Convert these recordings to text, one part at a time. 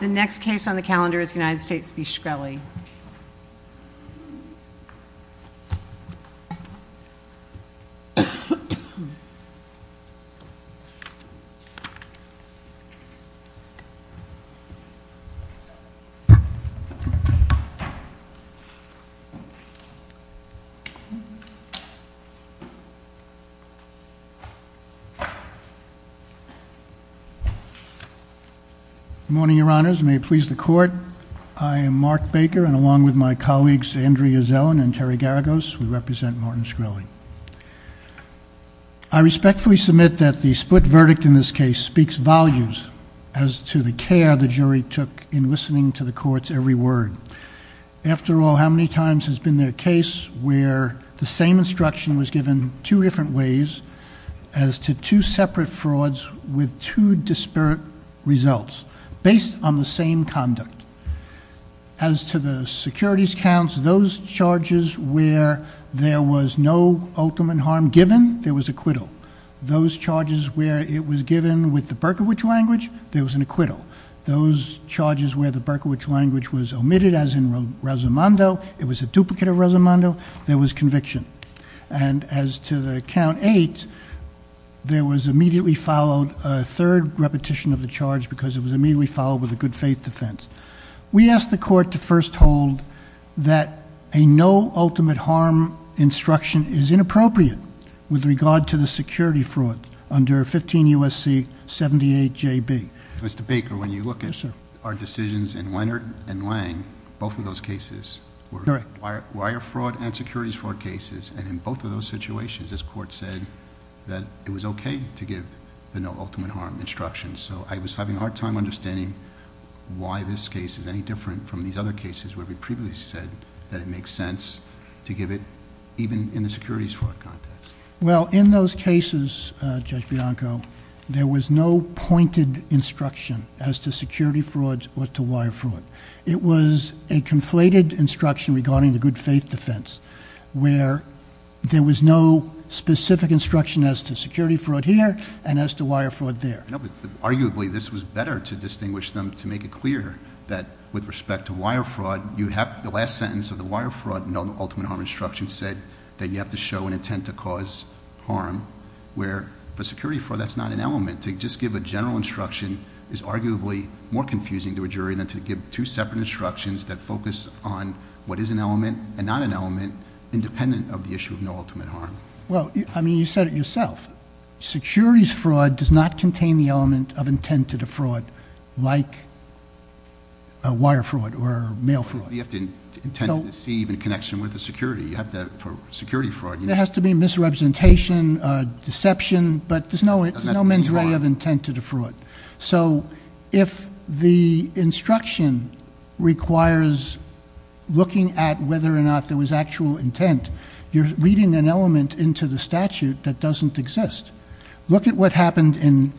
The next case on the calendar is United States v. Shkreli. Good morning, Your Honors. May it please the Court, I am Mark Baker. And along with my colleagues Andrea Zellin and Terry Garagos, we represent Martin Shkreli. I respectfully submit that the split verdict in this case speaks volumes as to the care the jury took in listening to the Court's every word. After all, how many times has been there a case where the same instruction was given two different ways as to two separate frauds with two disparate results based on the same conduct? As to the securities counts, those charges where there was no ultimate harm given, there was acquittal. Those charges where it was given with the Berkowitz language, there was an acquittal. Those charges where the Berkowitz language was omitted as in Rosamondo, it was a duplicate of Rosamondo, there was conviction. And as to the count eight, there was immediately followed a third repetition of the charge because it was immediately followed with a good faith defense. We asked the Court to first hold that a no ultimate harm instruction is inappropriate with regard to the security fraud under 15 U.S.C. 78JB. Mr. Baker, when you look at our decisions in Leonard and Lang, both of those cases were wire fraud and securities fraud cases. And in both of those situations, this Court said that it was okay to give the no ultimate harm instruction. So I was having a hard time understanding why this case is any different from these other cases where we previously said that it makes sense to give it even in the securities fraud context. Well, in those cases, Judge Bianco, there was no pointed instruction as to security fraud or to wire fraud. It was a conflated instruction regarding the good faith defense where there was no specific instruction as to security fraud here and as to wire fraud there. Arguably, this was better to distinguish them to make it clear that with respect to wire fraud, the last sentence of the wire fraud no ultimate harm instruction said that you have to show an intent to cause harm where for security fraud, that's not an element. To just give a general instruction is arguably more confusing to a jury than to give two separate instructions that focus on what is an element and not an element independent of the issue of no ultimate harm. Well, I mean, you said it yourself. Securities fraud does not contain the element of intent to defraud like a wire fraud or mail fraud. You have to intend to deceive in connection with the security, you have to for security fraud. There has to be misrepresentation, deception, but there's no mendraya of intent to defraud. So if the instruction requires looking at whether or not there was actual intent, you're reading an element into the statute that doesn't exist. Look at what happened in,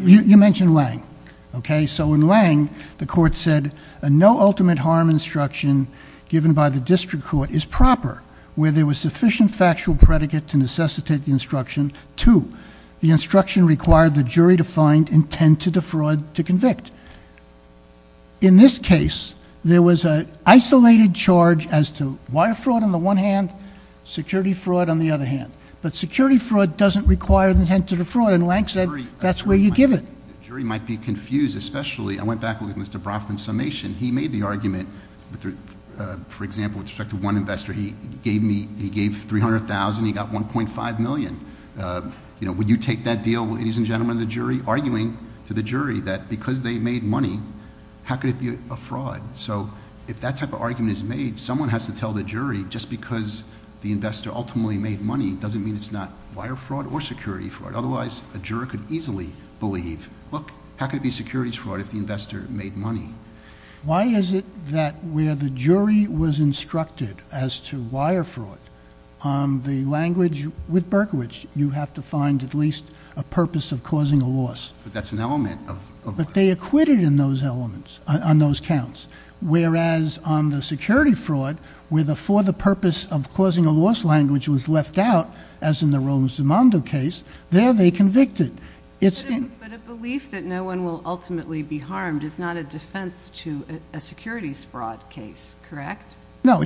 you mentioned Lange, okay? So in Lange, the court said a no ultimate harm instruction given by the district court is proper where there was sufficient factual predicate to necessitate the instruction to the instruction required the jury to find intent to defraud to convict. And in this case, there was an isolated charge as to wire fraud on the one hand, security fraud on the other hand. But security fraud doesn't require the intent to defraud and Lange said that's where you give it. The jury might be confused, especially, I went back with Mr. Brofman's summation. He made the argument, for example, with respect to one investor, he gave 300,000, he got 1.5 million. Would you take that deal, ladies and gentlemen of the jury, arguing to the jury that because they made money, how could it be a fraud? So if that type of argument is made, someone has to tell the jury just because the investor ultimately made money doesn't mean it's not wire fraud or security fraud. Otherwise, a juror could easily believe, look, how could it be security fraud if the investor made money? Why is it that where the jury was instructed as to wire fraud, the language with Berkowitz, you have to find at least a purpose of causing a loss. But that's an element of... But they acquitted in those elements, on those counts, whereas on the security fraud, where the for the purpose of causing a loss language was left out, as in the Roman Zimando case, there they convicted. But a belief that no one will ultimately be harmed is not a defense to a securities fraud case, correct? No,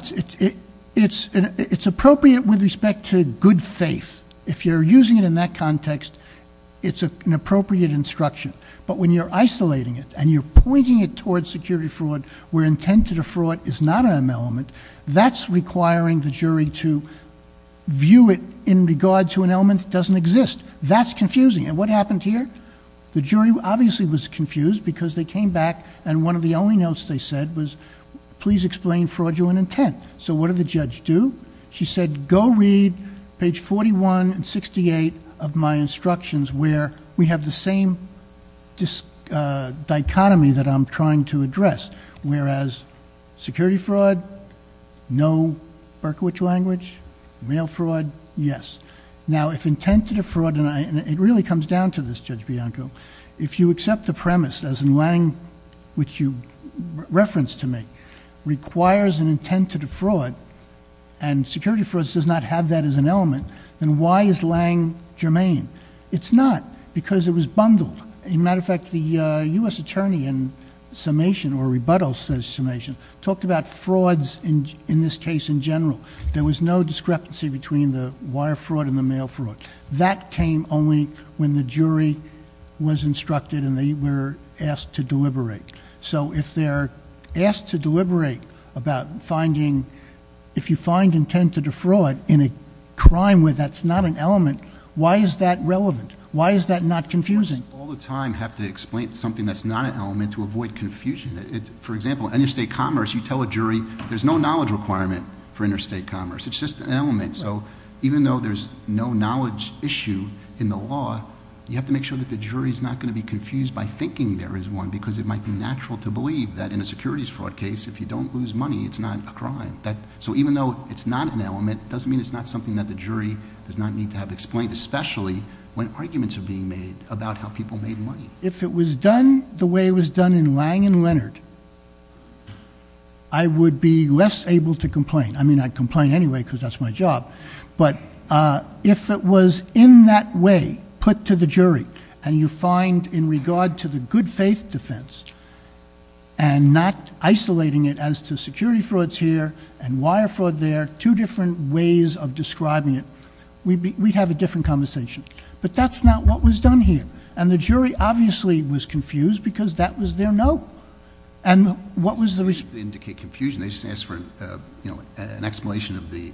it's appropriate with respect to good faith. If you're using it in that context, it's an appropriate instruction. But when you're isolating it and you're pointing it towards security fraud where intent to defraud is not an element, that's requiring the jury to view it in regard to an element that doesn't exist. That's confusing. And what happened here? The jury obviously was confused because they came back and one of the only notes they said was, please explain fraudulent intent. So what did the judge do? She said, go read page 41 and 68 of my instructions where we have the same dichotomy that I'm trying to address, whereas security fraud, no Berkowitz language, mail fraud, yes. Now if intent to defraud, and it really comes down to this, Judge Bianco, if you accept the premise as in Lange, which you referenced to me, requires an intent to defraud and security fraud does not have that as an element, then why is Lange germane? It's not because it was bundled. As a matter of fact, the U.S. Attorney in summation or rebuttal summation talked about frauds in this case in general. There was no discrepancy between the wire fraud and the mail fraud. That came only when the jury was instructed and they were asked to deliberate. So if they're asked to deliberate about finding, if you find intent to defraud in a crime where that's not an element, why is that relevant? Why is that not confusing? All the time have to explain something that's not an element to avoid confusion. For example, interstate commerce, you tell a jury there's no knowledge requirement for interstate commerce. It's just an element. So even though there's no knowledge issue in the law, you have to make sure that the jury's not going to be confused by thinking there is one, because it might be natural to believe that in a securities fraud case, if you don't lose money, it's not a crime. So even though it's not an element, doesn't mean it's not something that the jury does not need to have explained, especially when arguments are being made about how people made money. If it was done the way it was done in Lange and Leonard, I would be less able to complain. I mean, I'd complain anyway because that's my job. But if it was in that way put to the jury, and you find in regard to the good faith defense, and not isolating it as to security frauds here and wire fraud there, two different ways of describing it. We'd have a different conversation. But that's not what was done here. And the jury obviously was confused because that was their note. And what was the reason? They indicate confusion. They just asked for an explanation of the-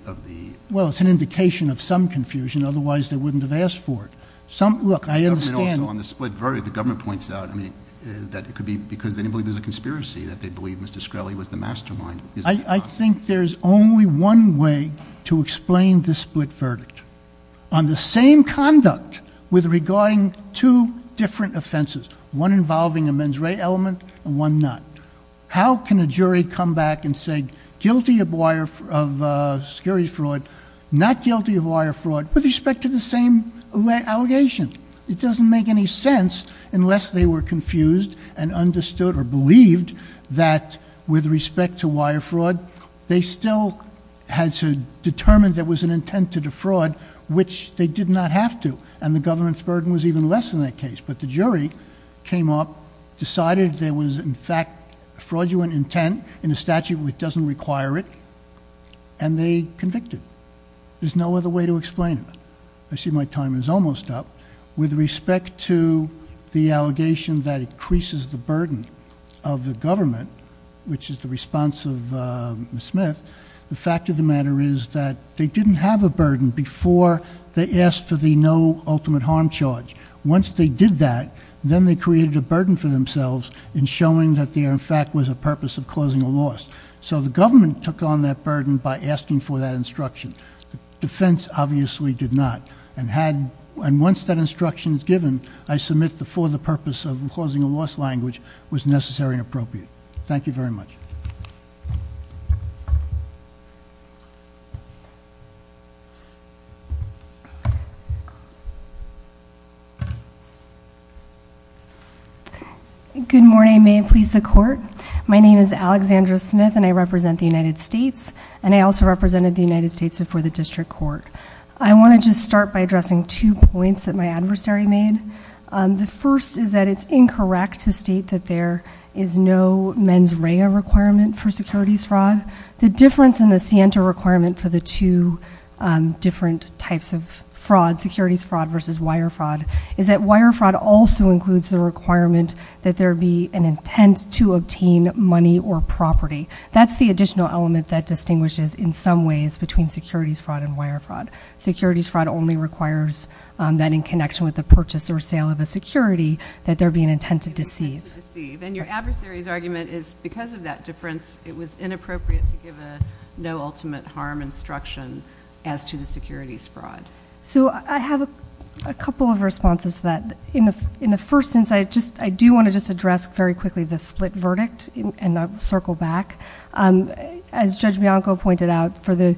Well, it's an indication of some confusion. Otherwise, they wouldn't have asked for it. Some, look, I understand- Also, on the split verdict, the government points out, I mean, that it could be because they didn't believe there was a conspiracy, that they believed Mr. Shkreli was the mastermind. I think there's only one way to explain the split verdict. On the same conduct with regarding two different offenses, one involving a mens rea element and one not. How can a jury come back and say guilty of security fraud, not guilty of wire fraud with respect to the same allegation? It doesn't make any sense unless they were confused and understood or believed that with respect to wire fraud, they still had to determine there was an intent to defraud, which they did not have to. And the government's burden was even less in that case. But the jury came up, decided there was, in fact, a fraudulent intent in a statute which doesn't require it, and they convicted. There's no other way to explain it. I see my time is almost up. With respect to the allegation that increases the burden of the government, which is the response of Ms. Smith, the fact of the matter is that they didn't have a burden before they asked for the no ultimate harm charge. Once they did that, then they created a burden for themselves in showing that there, in fact, was a purpose of causing a loss. So the government took on that burden by asking for that instruction. Defense obviously did not, and once that instruction is given, I submit the for the purpose of causing a loss language was necessary and appropriate. Thank you very much. Good morning, may it please the court. My name is Alexandra Smith, and I represent the United States. And I also represented the United States before the district court. I want to just start by addressing two points that my adversary made. The first is that it's incorrect to state that there is no mens rea requirement for securities fraud. The difference in the Sienta requirement for the two different types of fraud, securities fraud versus wire fraud, is that wire fraud also includes the requirement that there be an intent to obtain money or property. That's the additional element that distinguishes, in some ways, between securities fraud and wire fraud. Securities fraud only requires that in connection with the purchase or sale of a security that there be an intent to deceive. And your adversary's argument is because of that difference, it was inappropriate to give a no ultimate harm instruction as to the securities fraud. So I have a couple of responses to that. In the first instance, I do want to just address very quickly the split verdict, and I'll circle back. As Judge Bianco pointed out, for the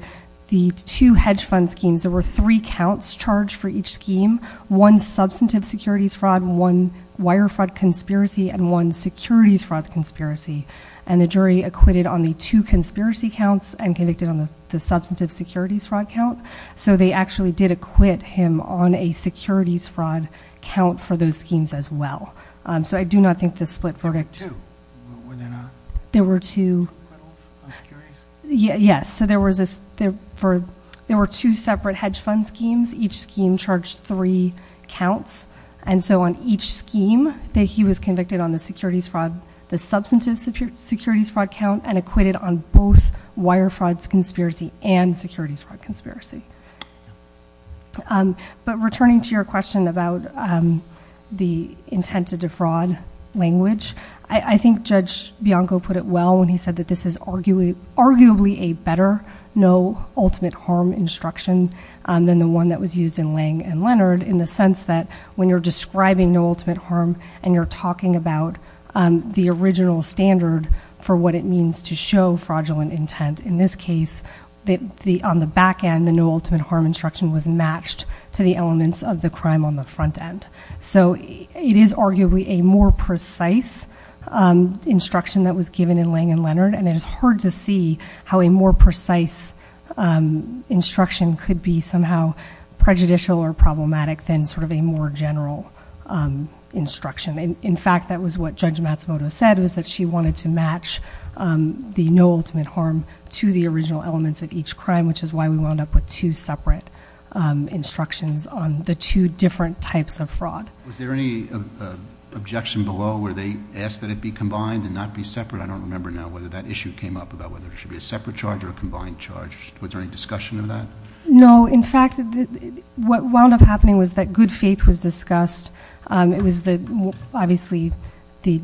two hedge fund schemes, there were three counts charged for each scheme. One substantive securities fraud, one wire fraud conspiracy, and one securities fraud conspiracy. And the jury acquitted on the two conspiracy counts and convicted on the substantive securities fraud count. So they actually did acquit him on a securities fraud count for those schemes as well. So I do not think the split verdict- There were two? There were two. Acquittals on securities? Yes, so there were two separate hedge fund schemes. Each scheme charged three counts. And so on each scheme, he was convicted on the securities fraud, the substantive securities fraud count, and acquitted on both wire frauds conspiracy and securities fraud conspiracy. But returning to your question about the intent to defraud language, I think Judge Bianco put it well when he said that this is arguably a better no ultimate harm instruction than the one that was used in Lange and Leonard in the sense that when you're describing no ultimate harm and you're talking about the original standard for what it means to show fraudulent intent. In this case, on the back end, the no ultimate harm instruction was matched to the elements of the crime on the front end. So it is arguably a more precise instruction that was given in Lange and Leonard could be somehow prejudicial or problematic than sort of a more general instruction. In fact, that was what Judge Matsumoto said, was that she wanted to match the no ultimate harm to the original elements of each crime, which is why we wound up with two separate instructions on the two different types of fraud. Was there any objection below where they asked that it be combined and not be separate? I don't remember now whether that issue came up about whether it should be a separate charge or a combined charge. Was there any discussion of that? No, in fact, what wound up happening was that good faith was discussed. It was the, obviously, the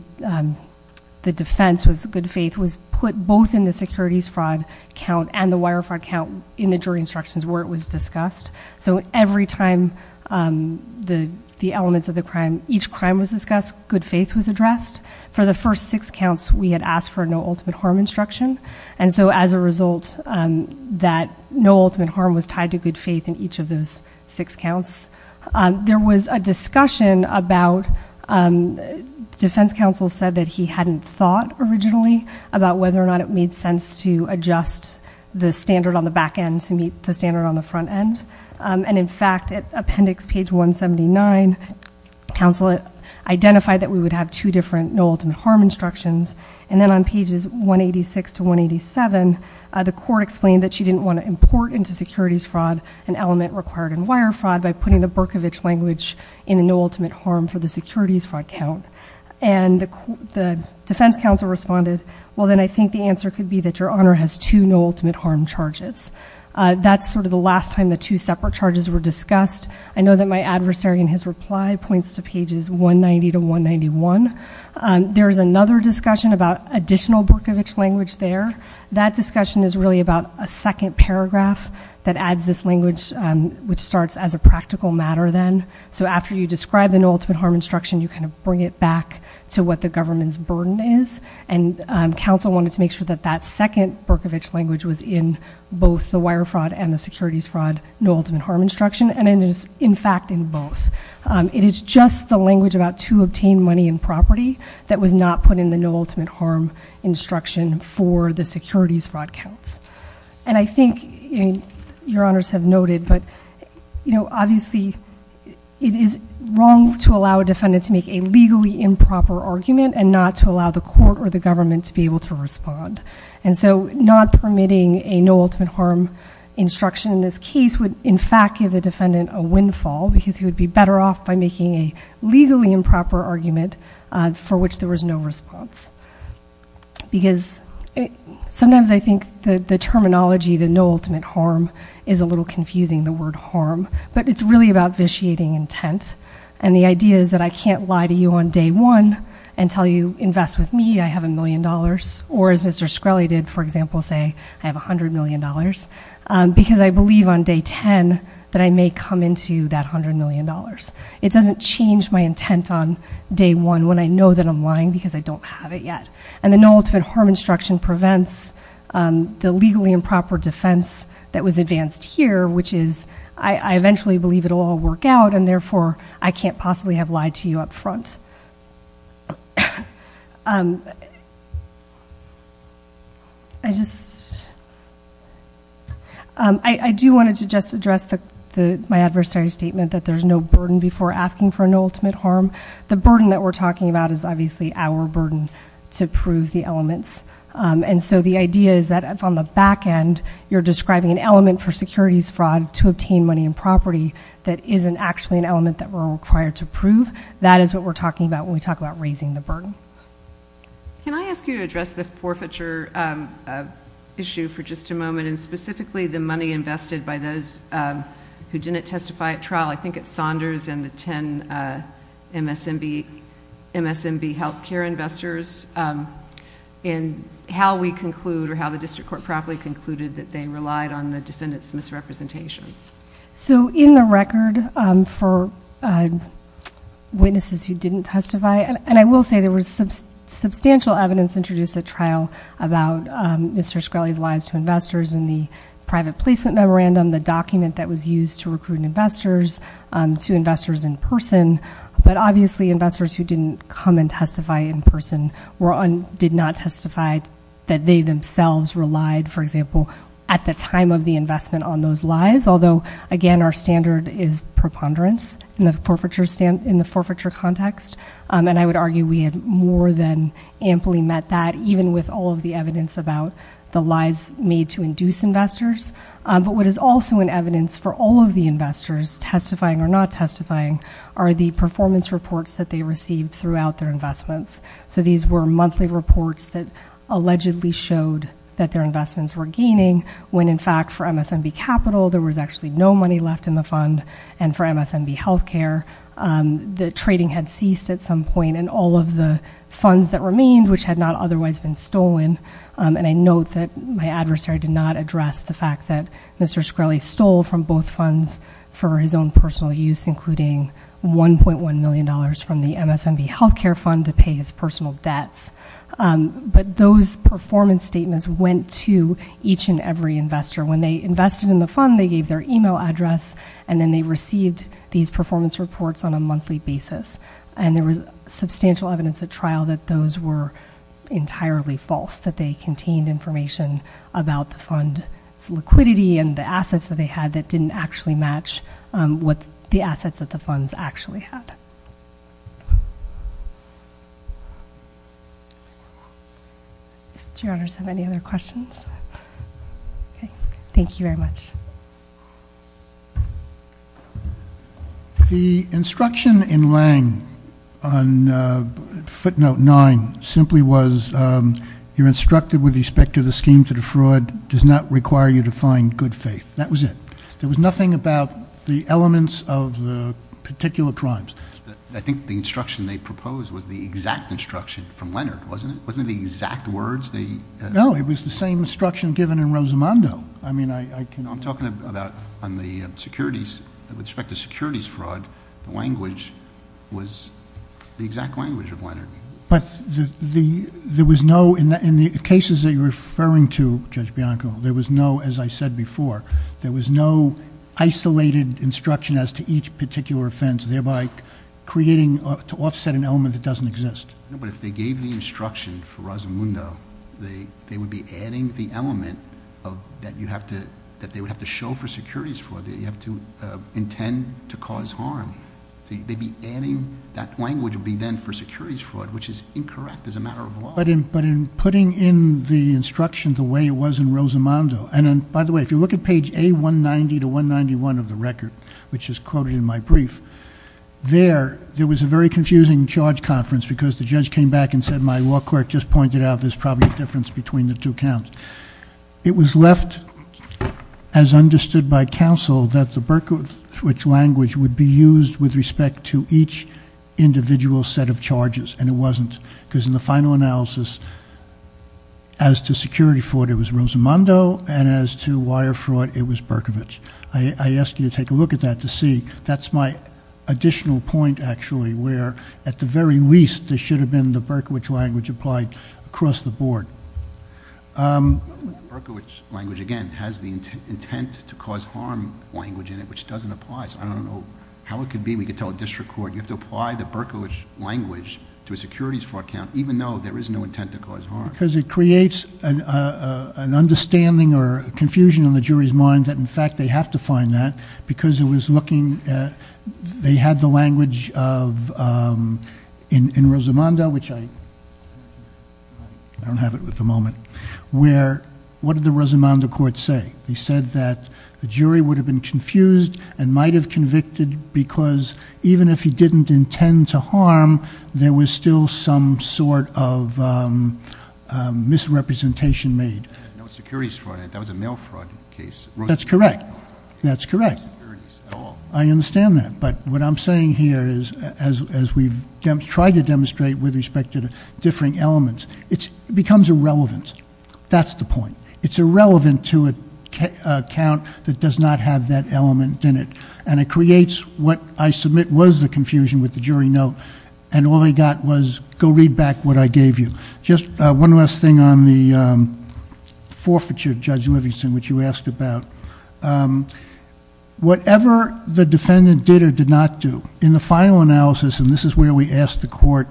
defense was good faith was put both in the securities fraud count and the wire fraud count in the jury instructions where it was discussed. So every time the elements of the crime, each crime was discussed, good faith was addressed. For the first six counts, we had asked for no ultimate harm instruction. And so as a result, that no ultimate harm was tied to good faith in each of those six counts. There was a discussion about, defense counsel said that he hadn't thought originally about whether or not it made sense to adjust the standard on the back end to meet the standard on the front end. And in fact, at appendix page 179, counsel identified that we would have two different no ultimate harm instructions. And then on pages 186 to 187, the court explained that she didn't want to import into securities fraud an element required in wire fraud by putting the Berkovich language in the no ultimate harm for the securities fraud count. And the defense counsel responded, well then I think the answer could be that your honor has two no ultimate harm charges. That's sort of the last time the two separate charges were discussed. I know that my adversary in his reply points to pages 190 to 191. There's another discussion about additional Berkovich language there. That discussion is really about a second paragraph that adds this language, which starts as a practical matter then. So after you describe the no ultimate harm instruction, you kind of bring it back to what the government's burden is. And counsel wanted to make sure that that second Berkovich language was in both the wire fraud and the securities fraud no ultimate harm instruction, and it is in fact in both. It is just the language about to obtain money and property that was not put in the no ultimate harm instruction for the securities fraud counts. And I think your honors have noted, but obviously, it is wrong to allow a defendant to make a legally improper argument and not to allow the court or the government to be able to respond. And so not permitting a no ultimate harm instruction in this case would in fact give the defendant a windfall, because he would be better off by making a legally improper argument for which there was no response. Because sometimes I think the terminology, the no ultimate harm, is a little confusing, the word harm. But it's really about vitiating intent. And the idea is that I can't lie to you on day one and tell you, invest with me, I have a million dollars. Or as Mr. Shkreli did, for example, say, I have $100 million. Because I believe on day ten that I may come into that $100 million. It doesn't change my intent on day one when I know that I'm lying because I don't have it yet. And the no ultimate harm instruction prevents the legally improper defense that was advanced here, which is, I eventually believe it will all work out and therefore, I can't possibly have lied to you up front. I just, I do want to just address my adversary's statement that there's no burden before asking for an ultimate harm. The burden that we're talking about is obviously our burden to prove the elements. And so the idea is that on the back end, you're describing an element for securities fraud to obtain money and property that isn't actually an element that we're required to prove. That is what we're talking about when we talk about raising the burden. Can I ask you to address the forfeiture issue for just a moment? And specifically the money invested by those who didn't testify at trial. I think it's Saunders and the ten MSMB healthcare investors. And how we conclude or how the district court probably concluded that they relied on the defendant's misrepresentations. So in the record for witnesses who didn't testify, and I will say there was substantial evidence introduced at trial about Mr. Scully's lies to investors in the private placement memorandum, the document that was used to recruit investors to investors in person. But obviously investors who didn't come and testify in person did not testify that they themselves relied, for example, at the time of the investment on those lies. Although, again, our standard is preponderance in the forfeiture context. And I would argue we had more than amply met that even with all of the evidence about the lies made to induce investors. But what is also in evidence for all of the investors testifying or not testifying are the performance reports that they received throughout their investments. So these were monthly reports that allegedly showed that their investments were gaining when, in fact, for MSMB Capital there was actually no money left in the fund and for MSMB Healthcare. The trading had ceased at some point and all of the funds that remained, which had not otherwise been stolen. And I note that my adversary did not address the fact that Mr. Scully stole from both funds for his own personal use, including $1.1 million from the MSMB Healthcare Fund to pay his personal debts. But those performance statements went to each and every investor. When they invested in the fund, they gave their email address, and then they received these performance reports on a monthly basis. And there was substantial evidence at trial that those were entirely false, that they contained information about the fund's liquidity and the assets that they had that didn't actually match with the assets that the funds actually had. Do your honors have any other questions? Okay, thank you very much. The instruction in Lange on footnote nine simply was, you're instructed with respect to the scheme to defraud does not require you to find good faith. That was it. There was nothing about the elements of the particular crimes. I think the instruction they proposed was the exact instruction from Leonard, wasn't it? Wasn't it the exact words they- No, it was the same instruction given in Rosamondo. I mean, I can- No, I'm talking about on the securities, with respect to securities fraud, the language was the exact language of Leonard. But there was no, in the cases that you're referring to, Judge Bianco, there was no, as I said before, there was no isolated instruction as to each particular offense, thereby creating, to offset an element that doesn't exist. No, but if they gave the instruction for Rosamondo, they would be adding the element that they would have to show for securities fraud. That you have to intend to cause harm. So they'd be adding, that language would be then for securities fraud, which is incorrect as a matter of law. But in putting in the instruction the way it was in Rosamondo, and by the way, if you look at page A190 to 191 of the record, which is quoted in my brief. There, there was a very confusing charge conference because the judge came back and said my law clerk just pointed out there's probably a difference between the two counts. It was left as understood by counsel that the Berkowitz language would be used with respect to each individual set of charges. And it wasn't, because in the final analysis, as to security fraud, it was Rosamondo, and as to wire fraud, it was Berkowitz. I ask you to take a look at that to see. That's my additional point, actually, where at the very least, there should have been the Berkowitz language applied across the board. Berkowitz language, again, has the intent to cause harm language in it, which doesn't apply. So I don't know how it could be. We could tell a district court, you have to apply the Berkowitz language to a securities fraud count, even though there is no intent to cause harm. Because it creates an understanding or confusion in the jury's mind that, in fact, they have to find that. Because it was looking at, they had the language of, in Rosamondo, which I, I don't have it at the moment, where, what did the Rosamondo court say? He said that the jury would have been confused and might have convicted because even if he didn't intend to harm, there was still some sort of misrepresentation made. No securities fraud, that was a mail fraud case. That's correct. That's correct. I understand that. But what I'm saying here is, as we've tried to demonstrate with respect to the differing elements, it becomes irrelevant. That's the point. It's irrelevant to a count that does not have that element in it. And it creates what I submit was the confusion with the jury note. And all I got was, go read back what I gave you. Just one last thing on the forfeiture, Judge Livingston, which you asked about. Whatever the defendant did or did not do, in the final analysis, and this is where we asked the court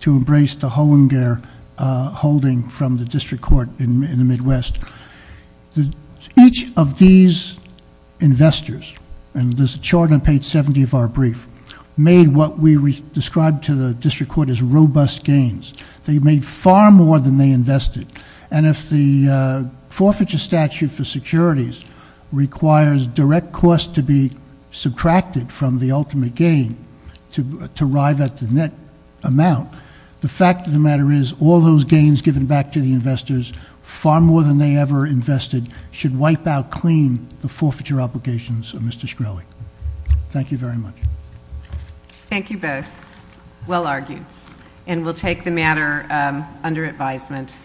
to embrace the Hollinger holding from the district court in the Midwest. Each of these investors, and there's a chart on page 70 of our brief, made what we described to the district court as robust gains. They made far more than they invested. And if the forfeiture statute for securities requires direct cost to be subtracted from the ultimate gain to arrive at the net amount. The fact of the matter is, all those gains given back to the investors, far more than they ever invested, should wipe out clean the forfeiture obligations of Mr. Shkreli. Thank you very much. Thank you both, well argued. And we'll take the matter under advisement.